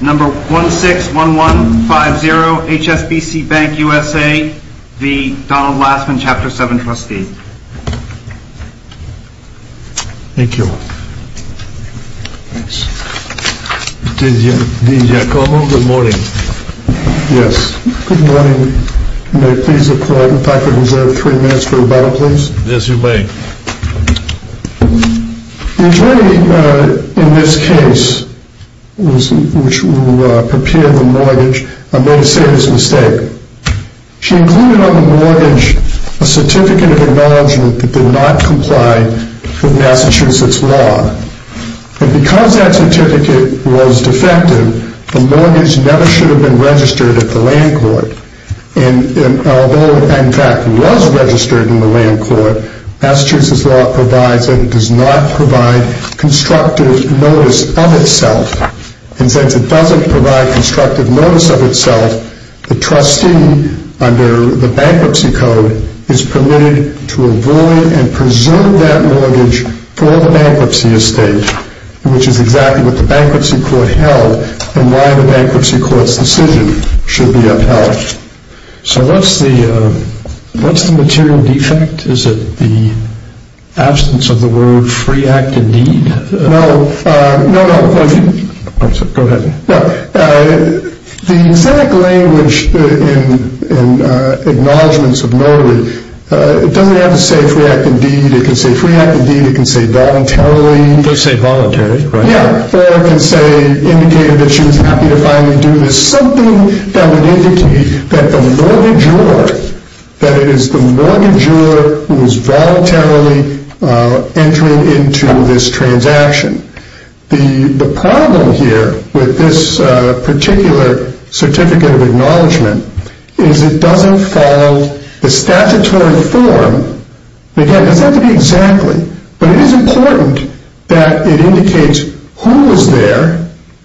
Number 161150, HSBC Bank USA, v. Donald Lassman, Chapter 7, Trustee. Thank you. Dean Giacomo, good morning. Yes, good morning. May I please have the faculty reserve three minutes for rebuttal, please? Yes, you may. The attorney in this case, which will prepare the mortgage, made a serious mistake. She included on the mortgage a certificate of acknowledgement that did not comply with Massachusetts law. And because that certificate was defective, the mortgage never should have been registered at the land court. And although it, in fact, was registered in the land court, Massachusetts law provides that it does not provide constructive notice of itself. And since it doesn't provide constructive notice of itself, the trustee, under the bankruptcy code, is permitted to avoid and presume that mortgage for the bankruptcy estate, which is exactly what the bankruptcy court held and why the bankruptcy court's decision should be upheld. So what's the material defect? Is it the absence of the word free act indeed? No, no, no. Go ahead. The exact language in acknowledgements of notary, it doesn't have to say free act indeed. It can say free act indeed. It can say voluntarily. Yeah, or it can say, indicate that she was happy to finally do this. Something that would indicate to me that the mortgagor, that it is the mortgagor who is voluntarily entering into this transaction. The problem here with this particular certificate of acknowledgement is it doesn't follow the statutory form. Again, it doesn't have to be exactly, but it is important that it indicates who is there,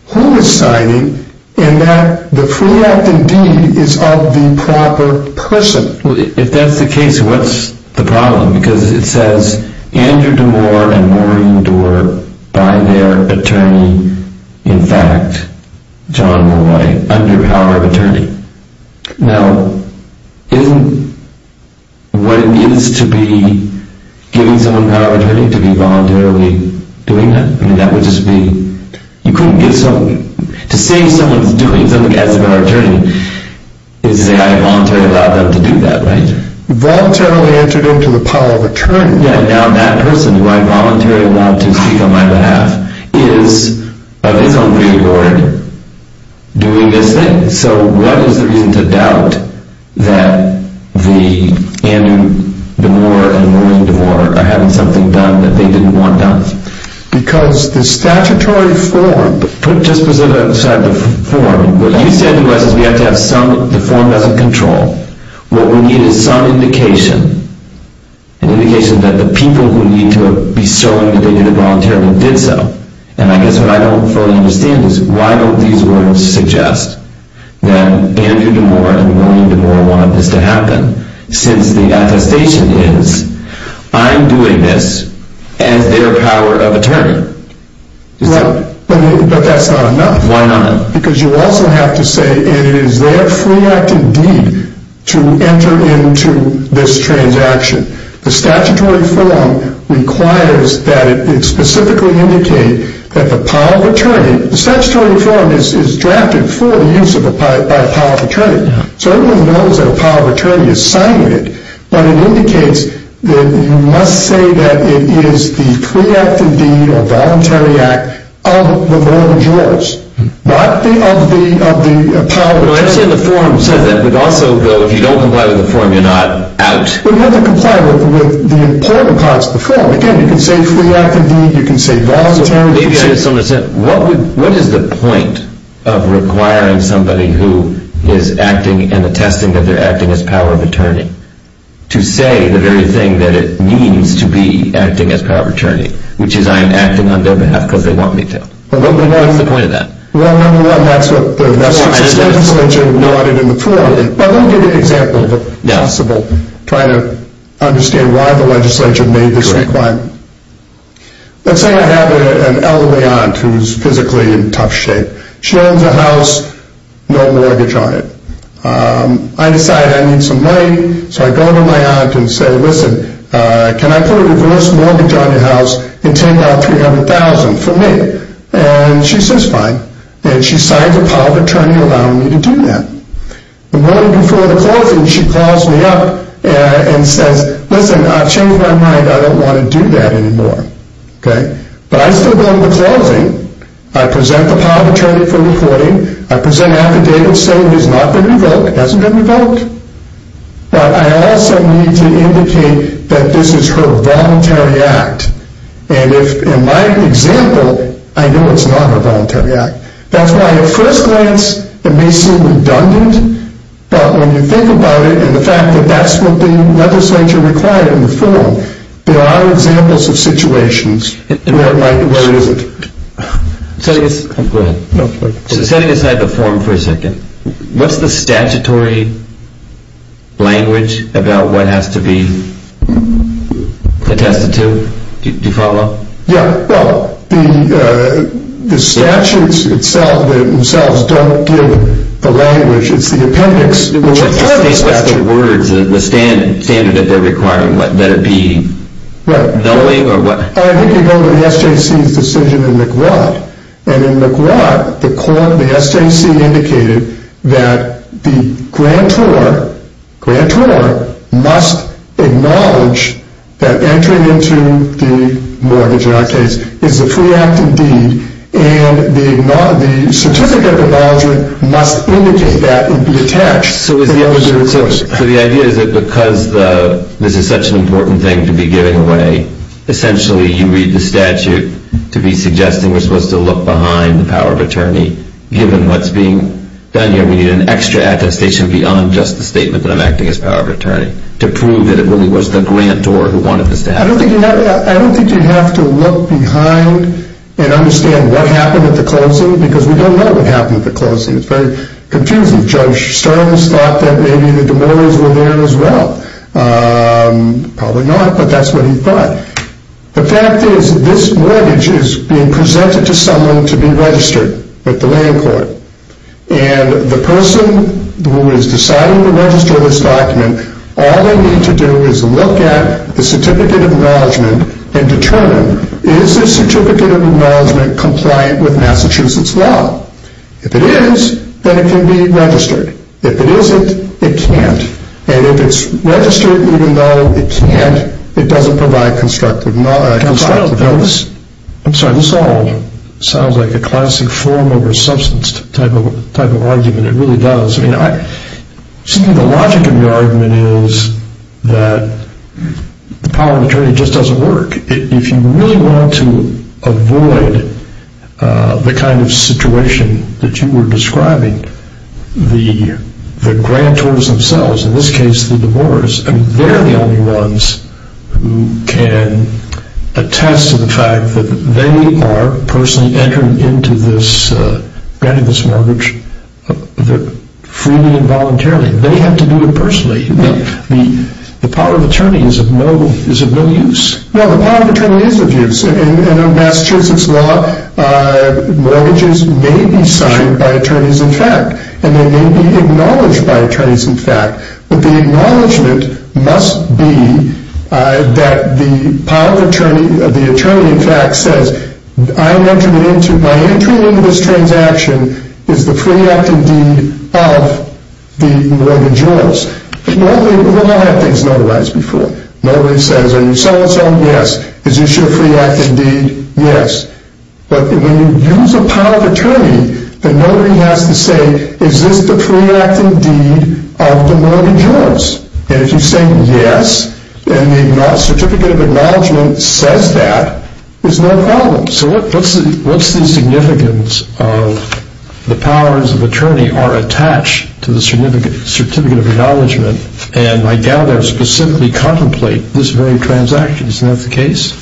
who is signing, and that the free act indeed is of the proper person. If that's the case, what's the problem? Because it says Andrew DeMoor and Maureen Doerr by their attorney, in fact, John Molloy, under power of attorney. Now, isn't what it is to be giving someone power of attorney to be voluntarily doing that? I mean, that would just be, you couldn't give someone, to say someone's doing something as a power of attorney, is to say I voluntarily allowed them to do that, right? Voluntarily entered into the power of attorney. Yeah, now that person who I voluntarily allowed to speak on my behalf is, of his own free will, doing this thing. Okay, so what is the reason to doubt that Andrew DeMoor and Maureen Doerr are having something done that they didn't want done? Because the statutory form, put just beside the form, what you said was we have to have some, the form doesn't control. What we need is some indication, an indication that the people who need to be showing that they did it voluntarily did so. And I guess what I don't fully understand is why don't these words suggest that Andrew DeMoor and Maureen Doerr wanted this to happen? Since the attestation is, I'm doing this as their power of attorney. Well, but that's not enough. Why not? Because you also have to say it is their free act indeed to enter into this transaction. The statutory form requires that it specifically indicate that the power of attorney, the statutory form is drafted for the use by the power of attorney. So everyone knows that a power of attorney is signed with it. But it indicates that you must say that it is the free act indeed, or voluntary act, of the vote of yours. Not of the power of attorney. Well, I understand the form says that, but also, Bill, if you don't comply with the form, you're not out. But you have to comply with the important parts of the form. Again, you can say free act indeed, you can say voluntary. Maybe I just don't understand. What is the point of requiring somebody who is acting and attesting that they're acting as power of attorney to say the very thing that it means to be acting as power of attorney, which is I'm acting on their behalf because they want me to? What's the point of that? Well, number one, that's what the statutory form noted in the form. Let me give you an example, if possible, trying to understand why the legislature made this requirement. Let's say I have an elderly aunt who is physically in tough shape. She owns a house, no mortgage on it. I decide I need some money, so I go to my aunt and say, listen, can I put a reverse mortgage on your house and take out $300,000 for me? And she says fine. And she signs a power of attorney allowing me to do that. The morning before the closing, she calls me up and says, listen, I've changed my mind. I don't want to do that anymore. But I still go to the closing. I present the power of attorney for reporting. I present affidavit saying it has not been revoked. It hasn't been revoked. But I also need to indicate that this is her voluntary act. And in my example, I know it's not her voluntary act. That's why at first glance it may seem redundant. But when you think about it and the fact that that's what the legislature required in the form, there are examples of situations where it isn't. Go ahead. Setting aside the form for a second, what's the statutory language about what has to be attested to? Do you follow? Yeah. Well, the statutes themselves don't give the language. It's the appendix. What's the words, the standard that they're requiring? What, let it be nulling or what? I think you go to the SJC's decision in McGuad. And in McGuad, the SJC indicated that the grantor must acknowledge that entering into the mortgage, in our case, is a free act indeed. And the certificate of acknowledgement must indicate that and be attached. So the idea is that because this is such an important thing to be giving away, essentially you read the statute to be suggesting we're supposed to look behind the power of attorney given what's being done here. We need an extra attestation beyond just the statement that I'm acting as power of attorney to prove that it really was the grantor who wanted this to happen. I don't think you have to look behind and understand what happened at the closing because we don't know what happened at the closing. It's very confusing. I think Judge Stearns thought that maybe the demurreys were there as well. Probably not, but that's what he thought. The fact is this mortgage is being presented to someone to be registered with the land court. And the person who is deciding to register this document, all they need to do is look at the certificate of acknowledgement and determine is this certificate of acknowledgement compliant with Massachusetts law? If it is, then it can be registered. If it isn't, it can't. And if it's registered even though it can't, it doesn't provide constructive evidence. I'm sorry, this all sounds like a classic form over substance type of argument. It really does. I mean, the logic of the argument is that the power of attorney just doesn't work. If you really want to avoid the kind of situation that you were describing, the grantors themselves, in this case the demurreys, they're the only ones who can attest to the fact that they are personally entering into this mortgage freely and voluntarily. They have to do it personally. The power of attorney is of no use. Well, the power of attorney is of use. In Massachusetts law, mortgages may be signed by attorneys-in-fact, and they may be acknowledged by attorneys-in-fact. But the acknowledgement must be that the power of attorney, the attorney-in-fact, says my entering into this transaction is the free acting deed of the mortgageors. We've all had things notarized before. Notary says, are you so-and-so? Yes. Is this your free acting deed? Yes. But when you use the power of attorney, the notary has to say, is this the free acting deed of the mortgageors? And if you say yes, and the certificate of acknowledgement says that, there's no problem. So what's the significance of the powers of attorney are attached to the certificate of acknowledgement, and I doubt I'll specifically contemplate this very transaction. Isn't that the case?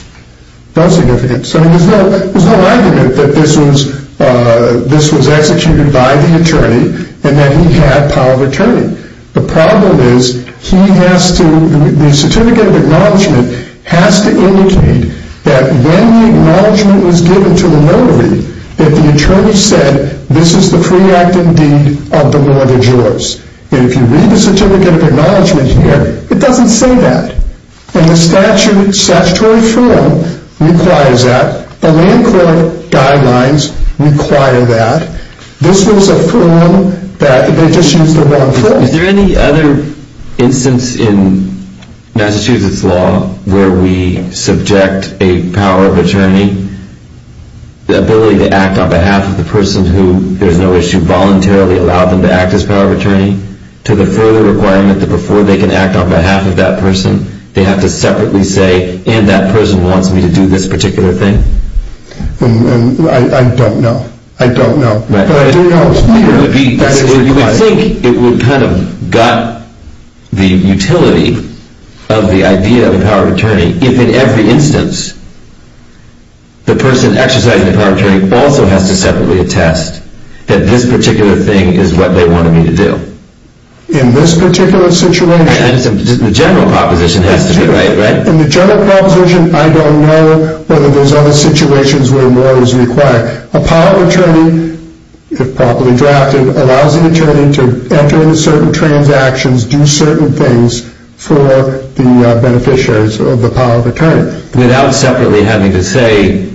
No significance. I mean, there's no argument that this was executed by the attorney and that he had power of attorney. The problem is he has to, the certificate of acknowledgement has to indicate that when the acknowledgement was given to the notary, that the attorney said this is the free acting deed of the mortgageors. And if you read the certificate of acknowledgement here, it doesn't say that. And the statutory form requires that. The land court guidelines require that. This was a form that they just used the wrong form. Is there any other instance in Massachusetts law where we subject a power of attorney, the ability to act on behalf of the person who, there's no issue, to voluntarily allow them to act as power of attorney, to the further requirement that before they can act on behalf of that person, they have to separately say, and that person wants me to do this particular thing? I don't know. I don't know. You would think it would kind of got the utility of the idea of the power of attorney, if in every instance, the person exercising the power of attorney also has to separately attest that this particular thing is what they wanted me to do. In this particular situation, The general proposition has to be right, right? In the general proposition, I don't know whether there's other situations where more is required. A power of attorney, if properly drafted, allows an attorney to enter into certain transactions, do certain things for the beneficiaries of the power of attorney. Without separately having to say,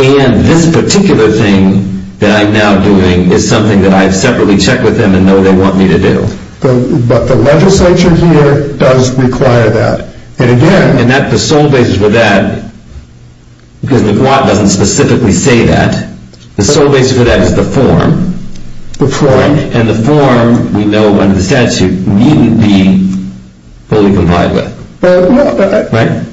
and this particular thing that I'm now doing is something that I've separately checked with them and know they want me to do. But the legislature here does require that. And again, the sole basis for that, because the GWAT doesn't specifically say that, the sole basis for that is the form. The form. And the form, we know under the statute, needn't be fully complied with. Right?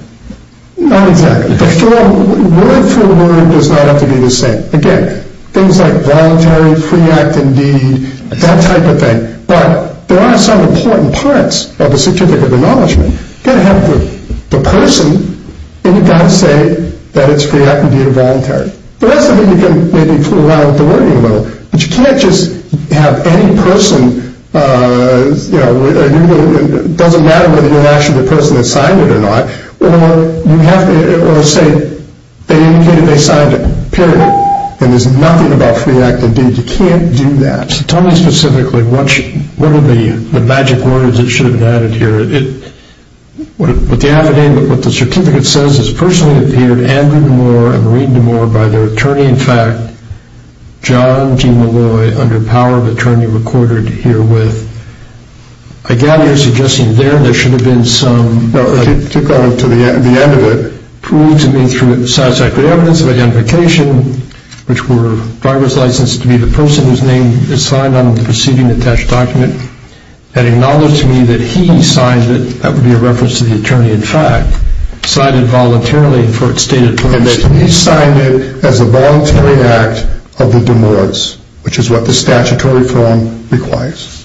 Not exactly. The form, word for word, does not have to be the same. Again, things like voluntary, free act, and deed, that type of thing. But there are some important parts of the certificate of acknowledgement. You've got to have the person, and you've got to say that it's free act and deed or voluntary. But that's something you can maybe fool around with the wording a little. But you can't just have any person, you know, it doesn't matter whether you're actually the person that signed it or not, or you have to say they indicated they signed it. Period. And there's nothing about free act and deed. You can't do that. So tell me specifically, what are the magic words that should have been added here? With the added name, what the certificate says is, personally appeared Andrew Nemour and Maureen Nemour by their attorney-in-fact, John G. Malloy, under power of attorney recorded herewith. I gather you're suggesting there, there should have been some. No, to go to the end of it. Proved to me through satisfactory evidence of identification, which were driver's license to be the person whose name is signed on the proceeding-attached document, and acknowledged to me that he signed it, that would be a reference to the attorney-in-fact, signed it voluntarily for its stated purpose. And he signed it as a voluntary act of the Nemours, which is what the statutory form requires.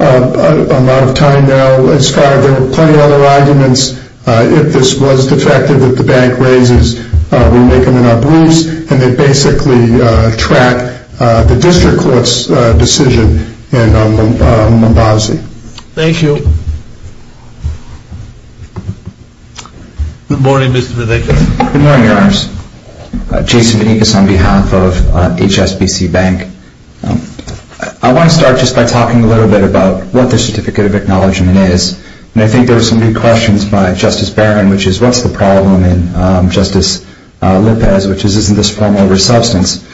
I'm out of time now. As far as there are plenty of other arguments, if this was defective that the bank raises, we make them in our briefs, and they basically track the district court's decision in Mombasi. Thank you. Good morning, Mr. Vanekis. Good morning, Your Honors. Jason Vanekis on behalf of HSBC Bank. I want to start just by talking a little bit about what the certificate of acknowledgment is. And I think there are some big questions by Justice Barron, which is, what's the problem? And Justice Lopez, which is, isn't this form over substance?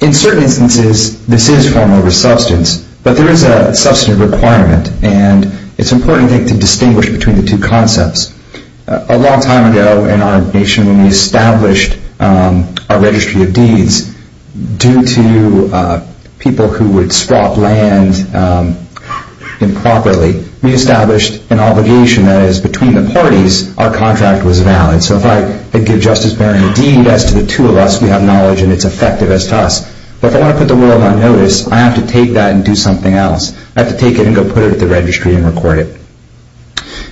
In certain instances, this is form over substance, but there is a substantive requirement. And it's important, I think, to distinguish between the two concepts. A long time ago in our nation, when we established our registry of deeds, due to people who would swap land improperly, we established an obligation that is, between the parties, our contract was valid. So if I give Justice Barron a deed, as to the two of us, we have knowledge and it's effective as to us. But if I want to put the world on notice, I have to take that and do something else. I have to take it and go put it at the registry and record it.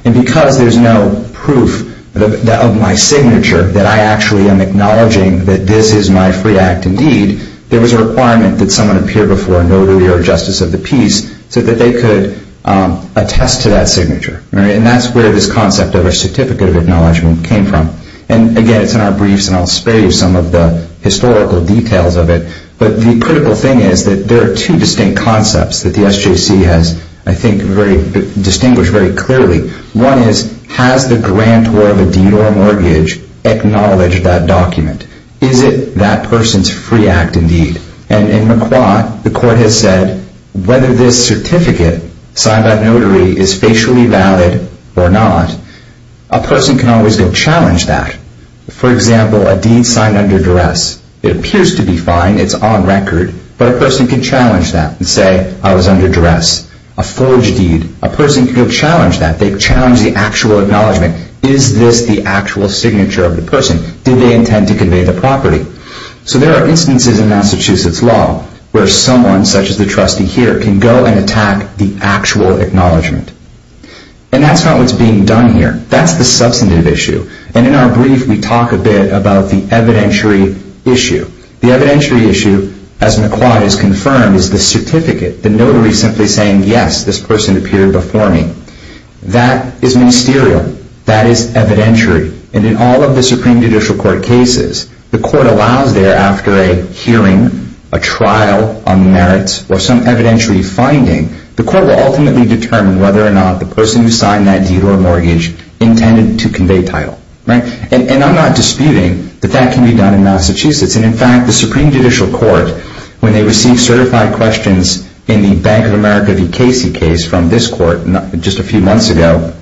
And because there's no proof of my signature that I actually am acknowledging that this is my free act and deed, there was a requirement that someone appear before a notary or a justice of the peace so that they could attest to that signature. And that's where this concept of a certificate of acknowledgment came from. And again, it's in our briefs, and I'll spare you some of the historical details of it. But the critical thing is that there are two distinct concepts that the SJC has, I think, distinguished very clearly. One is, has the grantor of a deed or a mortgage acknowledged that document? Is it that person's free act and deed? And in McQuarrie, the court has said, whether this certificate signed by a notary is facially valid or not, a person can always go challenge that. For example, a deed signed under duress, it appears to be fine, it's on record, but a person can challenge that and say, I was under duress. A forage deed, a person can challenge that. They challenge the actual acknowledgment. Is this the actual signature of the person? Did they intend to convey the property? So there are instances in Massachusetts law where someone, such as the trustee here, can go and attack the actual acknowledgment. And that's not what's being done here. That's the substantive issue. And in our brief, we talk a bit about the evidentiary issue. The evidentiary issue, as McQuarrie has confirmed, is the certificate, the notary simply saying, yes, this person appeared before me. That is ministerial. That is evidentiary. And in all of the Supreme Judicial Court cases, the court allows there, after a hearing, a trial on merits, or some evidentiary finding, the court will ultimately determine whether or not the person who signed that deed or mortgage intended to convey title. And I'm not disputing that that can be done in Massachusetts. And in fact, the Supreme Judicial Court, when they received certified questions in the Bank of America v. Casey case from this court just a few months ago,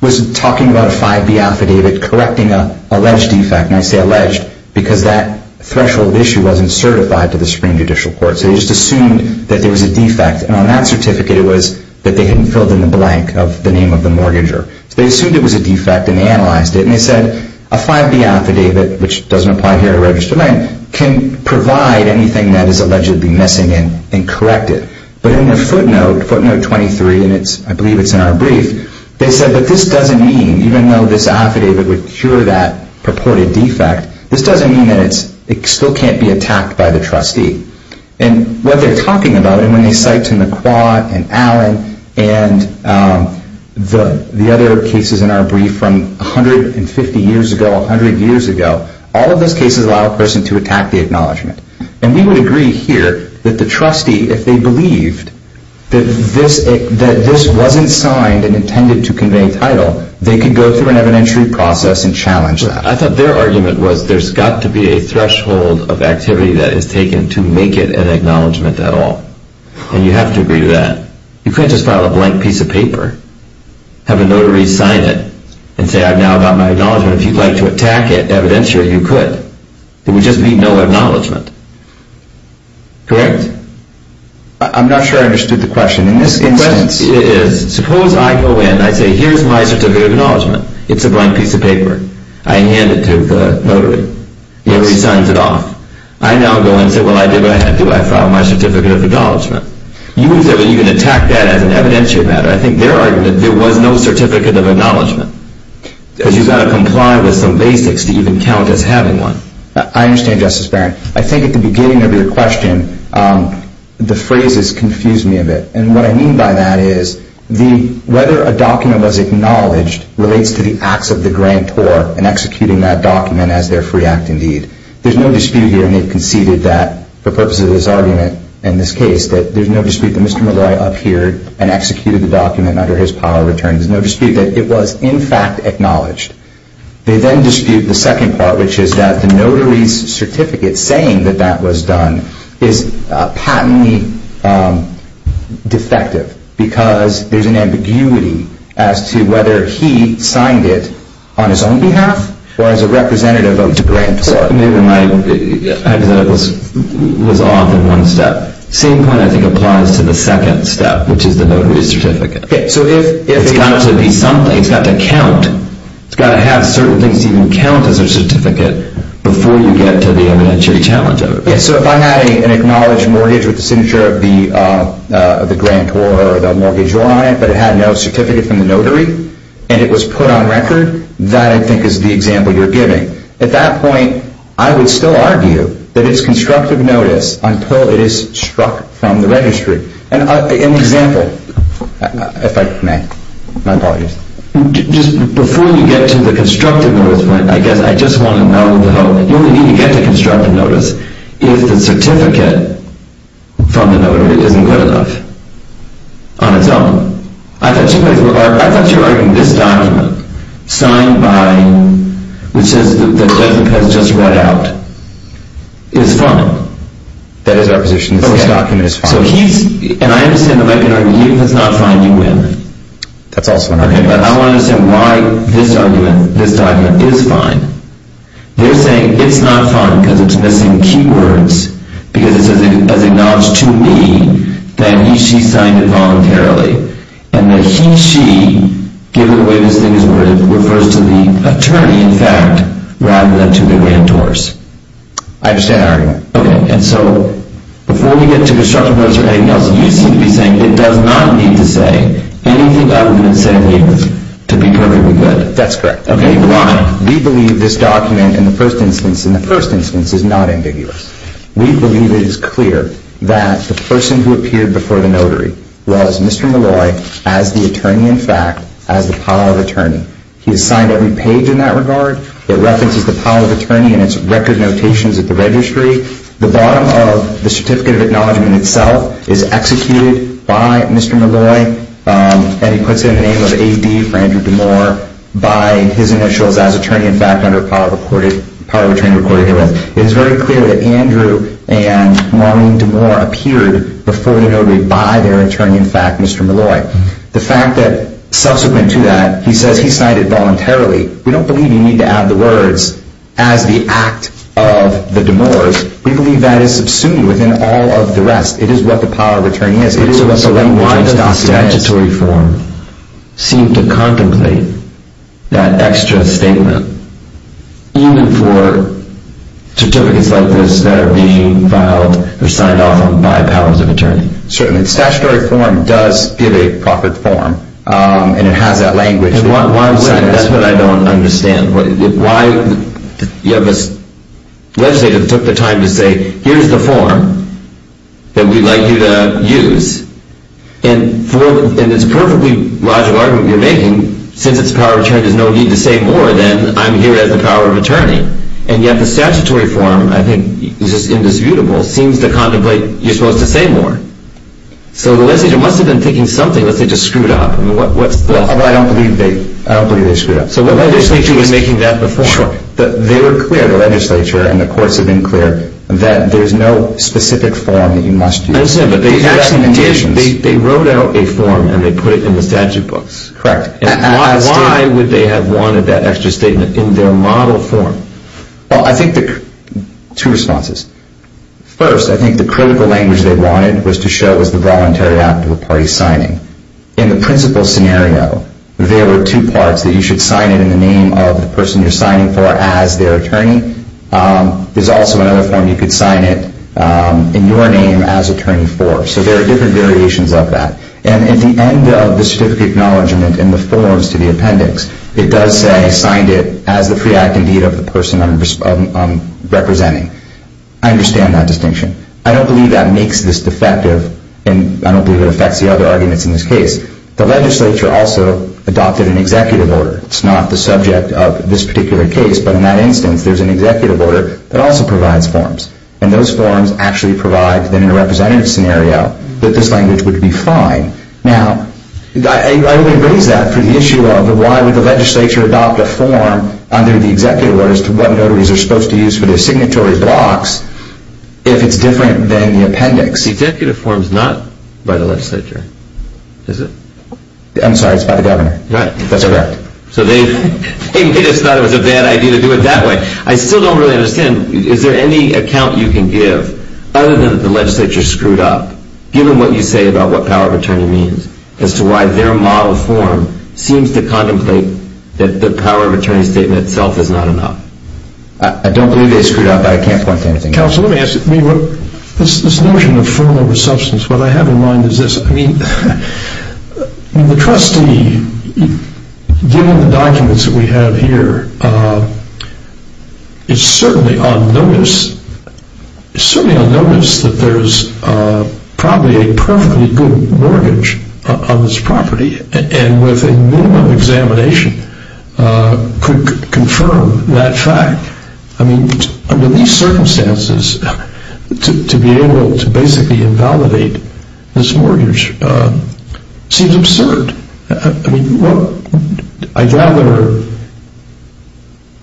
was talking about a 5B affidavit correcting an alleged defect. And I say alleged because that threshold issue wasn't certified to the Supreme Judicial Court. So they just assumed that there was a defect. And on that certificate, it was that they hadn't filled in the blank of the name of the mortgager. So they assumed it was a defect and analyzed it. And they said, a 5B affidavit, which doesn't apply here to registered land, can provide anything that is allegedly missing and correct it. But in their footnote, footnote 23, and I believe it's in our brief, they said that this doesn't mean, even though this affidavit would cure that purported defect, this doesn't mean that it still can't be attacked by the trustee. And what they're talking about, and when they cite to McQuad and Allen and the other cases in our brief from 150 years ago, 100 years ago, all of those cases allow a person to attack the acknowledgment. And we would agree here that the trustee, if they believed that this wasn't signed and intended to convey title, they could go through an evidentiary process and challenge that. I thought their argument was there's got to be a threshold of activity that is taken to make it an acknowledgment at all. And you have to agree to that. You can't just file a blank piece of paper, have a notary sign it, and say I've now got my acknowledgment. If you'd like to attack it evidentiary, you could. There would just be no acknowledgment. Correct? I'm not sure I understood the question. The question is, suppose I go in, I say here's my certificate of acknowledgment. It's a blank piece of paper. I hand it to the notary. He signs it off. I now go in and say, well, I did what I had to do. I filed my certificate of acknowledgment. You can say, well, you can attack that as an evidentiary matter. I think their argument, there was no certificate of acknowledgment because you've got to comply with some basics to even count as having one. I understand, Justice Barron. I think at the beginning of your question, the phrases confused me a bit. And what I mean by that is whether a document was acknowledged relates to the acts of the grantor in executing that document as their free act indeed. There's no dispute here, and they've conceded that for purposes of this argument in this case, that there's no dispute that Mr. Malloy up here and executed the document under his power of attorney. There's no dispute that it was in fact acknowledged. They then dispute the second part, which is that the notary's certificate saying that that was done is patently defective because there's an ambiguity as to whether he signed it on his own behalf or as a representative of the grantor. Maybe my hypotheticals was off in one step. The same point, I think, applies to the second step, which is the notary's certificate. It's got to be something. It's got to count. It's got to have certain things to even count as a certificate before you get to the evidentiary challenge of it. So if I had an acknowledged mortgage with the signature of the grantor or the mortgage owner on it, but it had no certificate from the notary, and it was put on record, that I think is the example you're giving. At that point, I would still argue that it's constructive notice until it is struck from the registry. An example, if I may. My apologies. Just before you get to the constructive notice point, I guess I just want to know, you only need to get to constructive notice if the certificate from the notary isn't good enough on its own. I thought you were arguing this document, signed by, which says that it hasn't been just read out, is fine. That is our position. This document is fine. So he's, and I understand the American argument, even if it's not fine, you win. That's also an argument. Okay, but I want to understand why this argument, this document, is fine. They're saying it's not fine because it's missing key words, because it says, as acknowledged to me, that he, she signed it voluntarily, and that he, she, given the way this thing is written, refers to the attorney, in fact, rather than to the grantors. I understand that argument. Okay, and so before we get to constructive notice or anything else, you seem to be saying it does not need to say anything other than it said it needed to be perfectly good. That's correct. Okay, why? We believe this document, in the first instance, in the first instance, is not ambiguous. We believe it is clear that the person who appeared before the notary was Mr. Molloy as the attorney, in fact, as the pile of attorney. He has signed every page in that regard. It references the pile of attorney in its record notations at the registry. The bottom of the certificate of acknowledgement itself is executed by Mr. Molloy, and he puts in the name of A.D. for Andrew DeMoor by his initials as attorney, in fact, under the pile of attorney recorded herewith. It is very clear that Andrew and Maureen DeMoor appeared before the notary by their attorney, in fact, Mr. Molloy. The fact that, subsequent to that, he says he signed it voluntarily, we don't believe you need to add the words as the act of the DeMors. We believe that is subsumed within all of the rest. It is what the pile of attorney is. So then why does the statutory form seem to contemplate that extra statement, even for certificates like this that are being filed or signed off on by piles of attorney? Certainly. The statutory form does give a proper form, and it has that language. That's what I don't understand. Why did you have this legislator that took the time to say, here's the form that we'd like you to use, and it's a perfectly logical argument you're making, since it's the power of attorney, there's no need to say more than I'm here as the power of attorney, and yet the statutory form, I think, is just indisputable, seems to contemplate you're supposed to say more. So the legislator must have been thinking something, let's say, just screwed up. What's this? I don't believe they screwed up. So the legislator was making that the form. Sure. They were clear, the legislature and the courts have been clear, that there's no specific form that you must use. I understand, but they actually wrote out a form and they put it in the statute books. Correct. Why would they have wanted that extra statement in their model form? Well, I think there are two responses. First, I think the critical language they wanted was to show it was the voluntary act of a party signing. In the principal scenario, there were two parts, that you should sign it in the name of the person you're signing for as their attorney. There's also another form you could sign it in your name as attorney for. So there are different variations of that. And at the end of the certificate acknowledgement in the forms to the appendix, it does say, signed it as the free act, indeed, of the person I'm representing. I understand that distinction. I don't believe that makes this defective, and I don't believe it affects the other arguments in this case. The legislature also adopted an executive order. It's not the subject of this particular case, but in that instance, there's an executive order that also provides forms. And those forms actually provide, then, in a representative scenario, that this language would be fine. Now, I raise that for the issue of, why would the legislature adopt a form under the executive orders to what notaries are supposed to use for their signatory blocks, if it's different than the appendix? The executive form is not by the legislature, is it? I'm sorry, it's by the governor. Right. That's correct. So they just thought it was a bad idea to do it that way. I still don't really understand. Is there any account you can give, other than that the legislature screwed up, given what you say about what power of attorney means, as to why their model form seems to contemplate that the power of attorney statement itself is not enough? I don't believe they screwed up, but I can't point to anything. Counsel, let me ask you, this notion of firm over substance, what I have in mind is this. I mean, the trustee, given the documents that we have here, is certainly on notice that there's probably a perfectly good mortgage on this property, and with a minimum examination could confirm that fact. I mean, under these circumstances, to be able to basically invalidate this mortgage seems absurd. I mean, I gather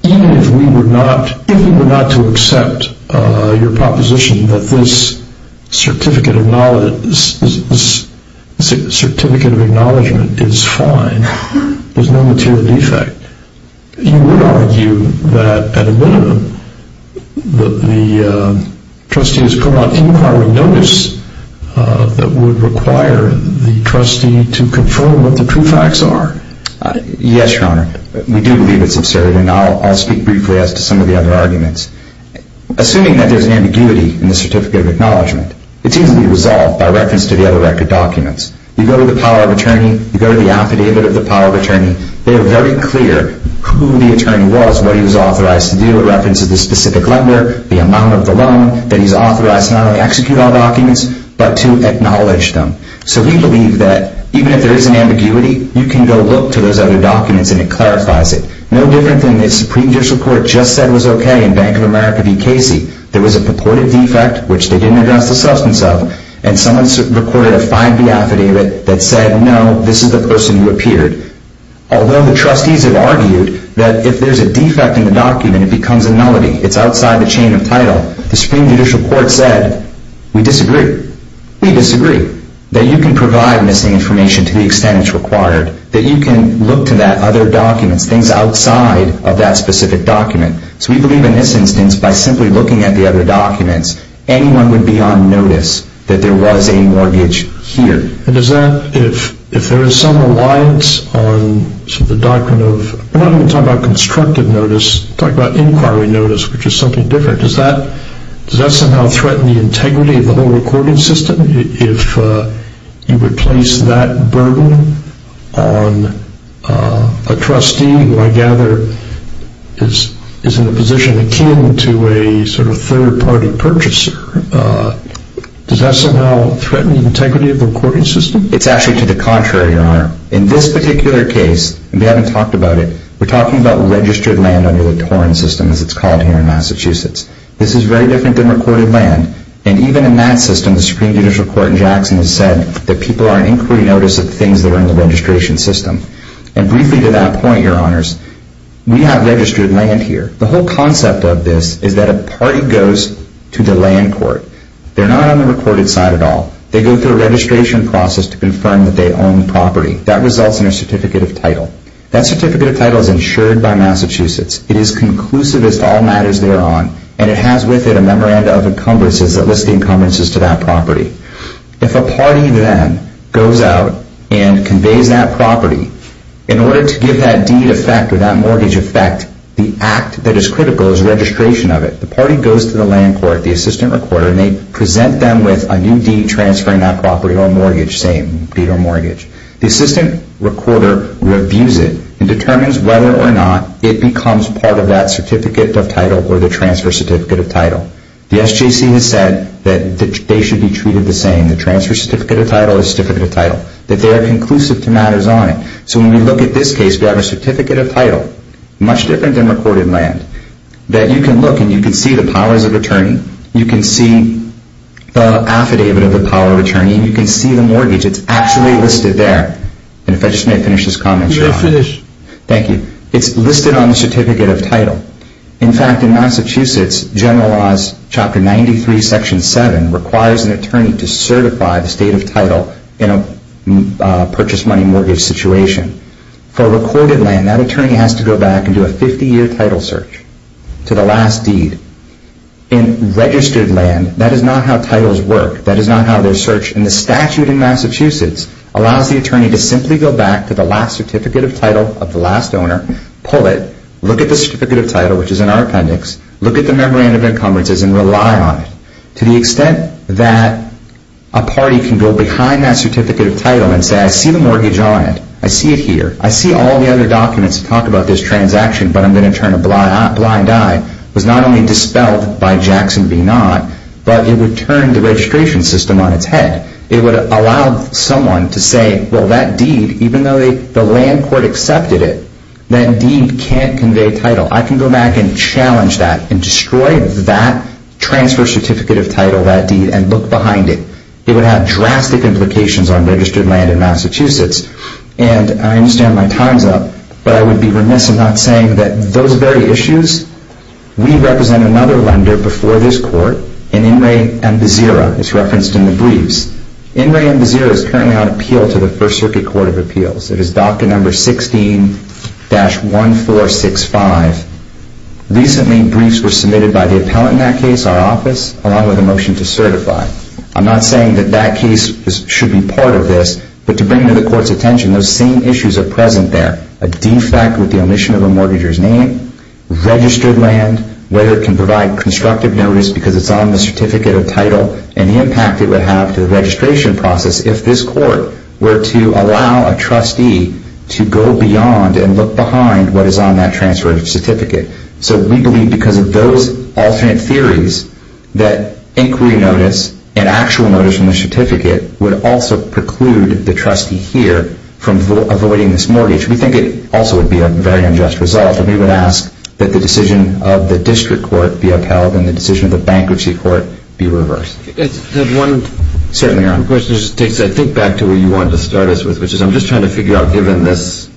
even if we were not to accept your proposition that this certificate of acknowledgment is fine, there's no material defect, you would argue that, at a minimum, the trustee has gone on inquiring notice that would require the trustee to confirm what the true facts are? Yes, Your Honor. We do believe it's absurd, and I'll speak briefly as to some of the other arguments. Assuming that there's an ambiguity in the certificate of acknowledgment, it's easily resolved by reference to the other record documents. You go to the power of attorney, you go to the affidavit of the power of attorney, they are very clear who the attorney was, what he was authorized to do, a reference to the specific lender, the amount of the loan, that he's authorized to not only execute all documents, but to acknowledge them. So we believe that even if there is an ambiguity, you can go look to those other documents and it clarifies it. No different than the Supreme Judicial Court just said was okay in Bank of America v. Casey. There was a purported defect, which they didn't address the substance of, and someone recorded a 5B affidavit that said, no, this is the person who appeared. Although the trustees have argued that if there's a defect in the document, it becomes a nullity. It's outside the chain of title. The Supreme Judicial Court said, we disagree. We disagree. That you can provide missing information to the extent it's required. That you can look to that other documents, things outside of that specific document. So we believe in this instance, by simply looking at the other documents, anyone would be on notice that there was a mortgage here. And does that, if there is some alliance on the doctrine of, we're not even talking about constructive notice, we're talking about inquiry notice, which is something different. Does that somehow threaten the integrity of the whole recording system? If you replace that burden on a trustee, who I gather is in a position akin to a sort of third-party purchaser, does that somehow threaten the integrity of the recording system? It's actually to the contrary, Your Honor. In this particular case, and we haven't talked about it, we're talking about registered land under the TORIN system, as it's called here in Massachusetts. This is very different than recorded land. And even in that system, the Supreme Judicial Court in Jackson has said that people are on inquiry notice of things that are in the registration system. And briefly to that point, Your Honors, we have registered land here. The whole concept of this is that a party goes to the land court. They're not on the recorded side at all. They go through a registration process to confirm that they own the property. That results in a certificate of title. That certificate of title is insured by Massachusetts. It is conclusive as to all matters thereon. And it has with it a memoranda of encumbrances that list the encumbrances to that property. If a party then goes out and conveys that property, in order to give that deed effect or that mortgage effect, the act that is critical is registration of it. The party goes to the land court, the assistant recorder, and they present them with a new deed transferring that property or mortgage, say, deed or mortgage. The assistant recorder reviews it and determines whether or not it becomes part of that certificate of title or the transfer certificate of title. The SJC has said that they should be treated the same. The transfer certificate of title is certificate of title. That they are conclusive to matters on it. So when we look at this case, we have a certificate of title, much different than recorded land, that you can look and you can see the powers of attorney. You can see the affidavit of the power of attorney. You can see the mortgage. It's actually listed there. And if I just may finish this comment, Your Honor. You may finish. Thank you. It's listed on the certificate of title. In fact, in Massachusetts, General Laws, Chapter 93, Section 7, requires an attorney to certify the state of title in a purchase money mortgage situation. For recorded land, that attorney has to go back and do a 50-year title search to the last deed. In registered land, that is not how titles work. That is not how they're searched. And the statute in Massachusetts allows the attorney to simply go back to the last certificate of title of the last owner, pull it, look at the certificate of title, which is in our appendix, look at the memorandum of encumbrances, and rely on it. To the extent that a party can go behind that certificate of title and say, I see the mortgage on it. I see it here. I see all the other documents that talk about this transaction, but I'm going to turn a blind eye, was not only dispelled by Jackson v. Nod, but it would turn the registration system on its head. It would allow someone to say, well, that deed, even though the land court accepted it, that deed can't convey title. I can go back and challenge that and destroy that transfer certificate of title, that deed, and look behind it. It would have drastic implications on registered land in Massachusetts. And I understand my time's up, but I would be remiss in not saying that those very issues, we represent another lender before this court, in In re Ambezira. It's referenced in the briefs. In re Ambezira is currently on appeal to the First Circuit Court of Appeals. It is docket number 16-1465. Recently, briefs were submitted by the appellant in that case, our office, along with a motion to certify. I'm not saying that that case should be part of this, but to bring to the court's attention, those same issues are present there. A defect with the omission of a mortgager's name, registered land, whether it can provide constructive notice because it's on the certificate of title, and the impact it would have to the registration process if this court were to allow a trustee to go beyond and look behind what is on that transfer certificate. So we believe because of those alternate theories that inquiry notice and actual notice from the certificate would also preclude the trustee here from avoiding this mortgage. We think it also would be a very unjust result. And we would ask that the decision of the district court be upheld and the decision of the bankruptcy court be reversed. Certainly, your own question just takes, I think, back to where you wanted to start us with, which is I'm just trying to figure out, given this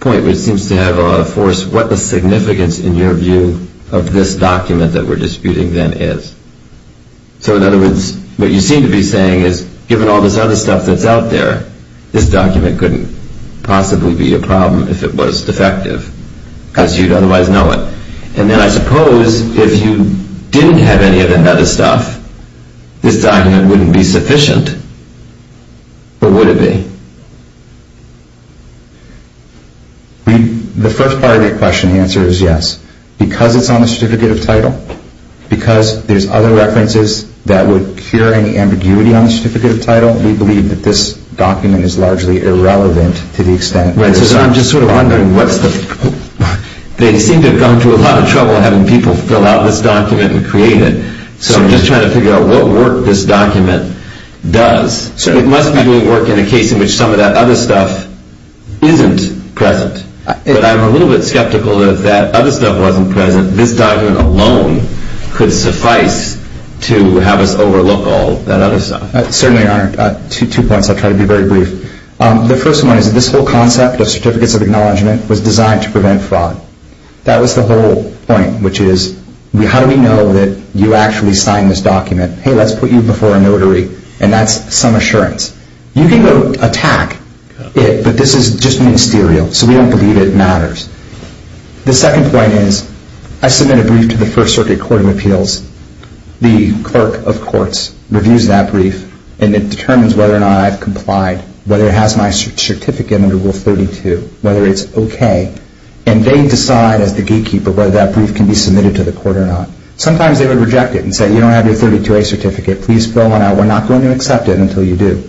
point, which seems to have a lot of force, what the significance in your view of this document that we're disputing then is. So in other words, what you seem to be saying is given all this other stuff that's out there, this document couldn't possibly be a problem if it was defective because you'd otherwise know it. And then I suppose if you didn't have any of that other stuff, this document wouldn't be sufficient. Or would it be? The first part of your question, the answer is yes. Because it's on the certificate of title, because there's other references that would cure any ambiguity on the certificate of title, we believe that this document is largely irrelevant to the extent that it is. Right, so I'm just sort of wondering what's the – they seem to have gone to a lot of trouble having people fill out this document and create it. So I'm just trying to figure out what work this document does. It must be doing work in a case in which some of that other stuff isn't present. But I'm a little bit skeptical that if that other stuff wasn't present, this document alone could suffice to have us overlook all that other stuff. Certainly, Your Honor. Two points, I'll try to be very brief. The first one is that this whole concept of certificates of acknowledgement was designed to prevent fraud. That was the whole point, which is how do we know that you actually signed this document? Hey, let's put you before a notary, and that's some assurance. You can go attack it, but this is just ministerial, so we don't believe it matters. The second point is I submit a brief to the First Circuit Court of Appeals. The clerk of courts reviews that brief, and it determines whether or not I've complied, whether it has my certificate under Rule 32, whether it's okay. And they decide as the gatekeeper whether that brief can be submitted to the court or not. Sometimes they would reject it and say, you don't have your 32A certificate. Please fill one out. We're not going to accept it until you do.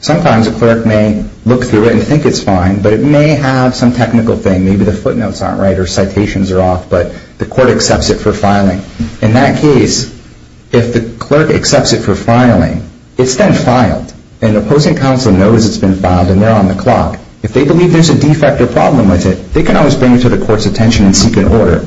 Sometimes a clerk may look through it and think it's fine, but it may have some technical thing. Maybe the footnotes aren't right or citations are off, but the court accepts it for filing. In that case, if the clerk accepts it for filing, it's then filed, and the opposing counsel knows it's been filed and they're on the clock. If they believe there's a defect or problem with it, they can always bring it to the court's attention and seek an order.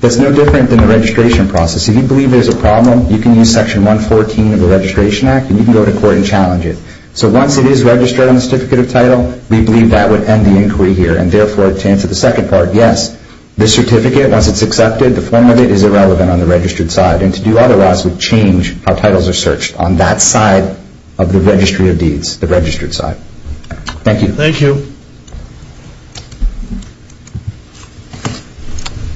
That's no different than the registration process. If you believe there's a problem, you can use Section 114 of the Registration Act, and you can go to court and challenge it. So once it is registered on the certificate of title, we believe that would end the inquiry here. And therefore, to answer the second part, yes, the certificate, once it's accepted, the form of it is irrelevant on the registered side, and to do otherwise would change how titles are searched on that side of the registry of deeds, the registered side. Thank you. Thank you.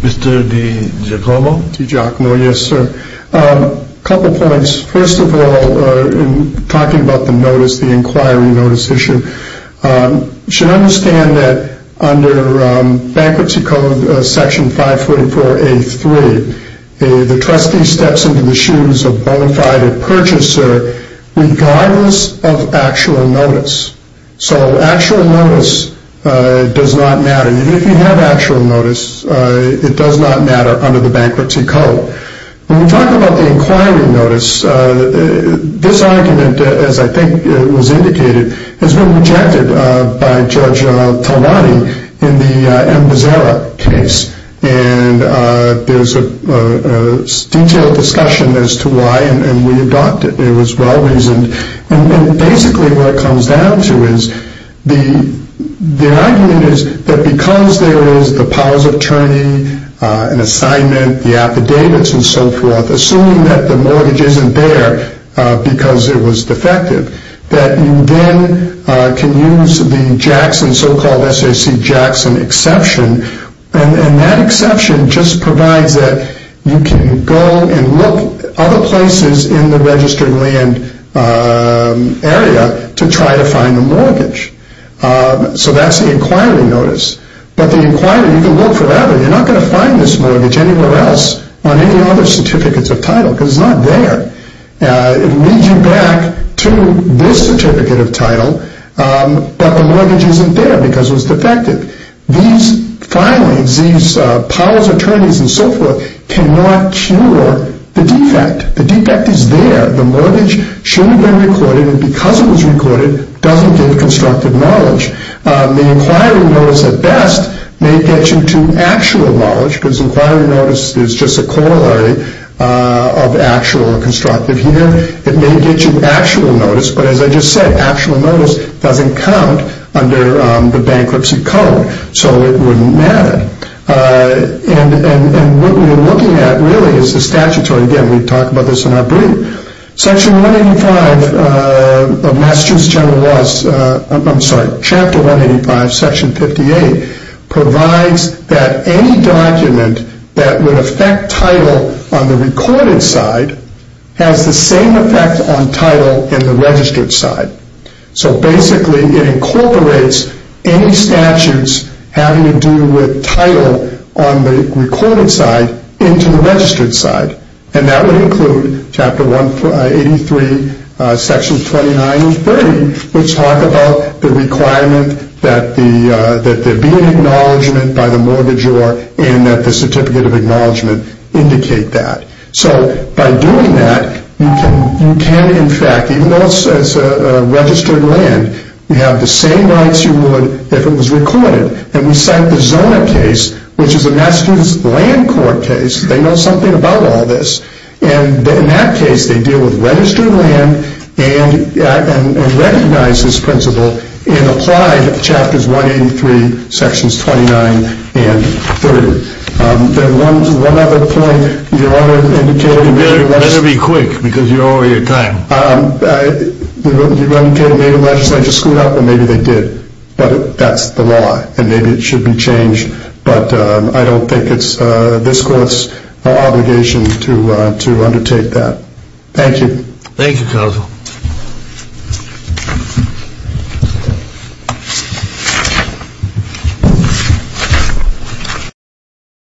Mr. DiGiacomo? DiGiacomo, yes, sir. A couple points. First of all, in talking about the notice, the inquiry notice issue, you should understand that under Bankruptcy Code Section 544A3, the trustee steps into the shoes of a bona fide purchaser regardless of actual notice. So actual notice does not matter. Even if you have actual notice, it does not matter under the Bankruptcy Code. When we talk about the inquiry notice, this argument, as I think was indicated, has been rejected by Judge Talani in the M. Bezzera case, and there's a detailed discussion as to why, and we adopted it. It was well-reasoned. And basically what it comes down to is the argument is that because there is the powers of attorney, an assignment, the affidavits and so forth, assuming that the mortgage isn't there because it was defective, that you then can use the Jackson, so-called SAC Jackson exception, and that exception just provides that you can go and look other places in the registered land area to try to find a mortgage. So that's the inquiry notice. But the inquiry, you can look forever. You're not going to find this mortgage anywhere else on any other certificates of title because it's not there. It will lead you back to this certificate of title, but the mortgage isn't there because it was defective. These filings, these powers of attorneys and so forth cannot cure the defect. The defect is there. The mortgage should have been recorded, and because it was recorded, doesn't give constructive knowledge. The inquiry notice at best may get you to actual knowledge, because inquiry notice is just a corollary of actual or constructive here. It may get you actual notice, but as I just said, the bankruptcy code, so it wouldn't matter. And what we're looking at really is the statutory. Again, we talk about this in our brief. Section 185 of Massachusetts General Laws, I'm sorry, Chapter 185, Section 58 provides that any document that would affect title on the recorded side has the same effect on title in the registered side. So basically, it incorporates any statutes having to do with title on the recorded side into the registered side, and that would include Chapter 183, Sections 29 and 30, which talk about the requirement that there be an acknowledgement by the mortgagor and that the certificate of acknowledgement indicate that. So by doing that, you can in fact, even though it says registered land, you have the same rights you would if it was recorded. And we cite the Zona case, which is a Massachusetts Land Court case. They know something about all this. And in that case, they deal with registered land and recognize this principle and apply Chapters 183, Sections 29 and 30. There's one other point you want to indicate. You better be quick because you're over your time. You're indicating maybe the legislature screwed up, and maybe they did. But that's the law, and maybe it should be changed. But I don't think it's this Court's obligation to undertake that. Thank you. Thank you, Counsel. Thank you.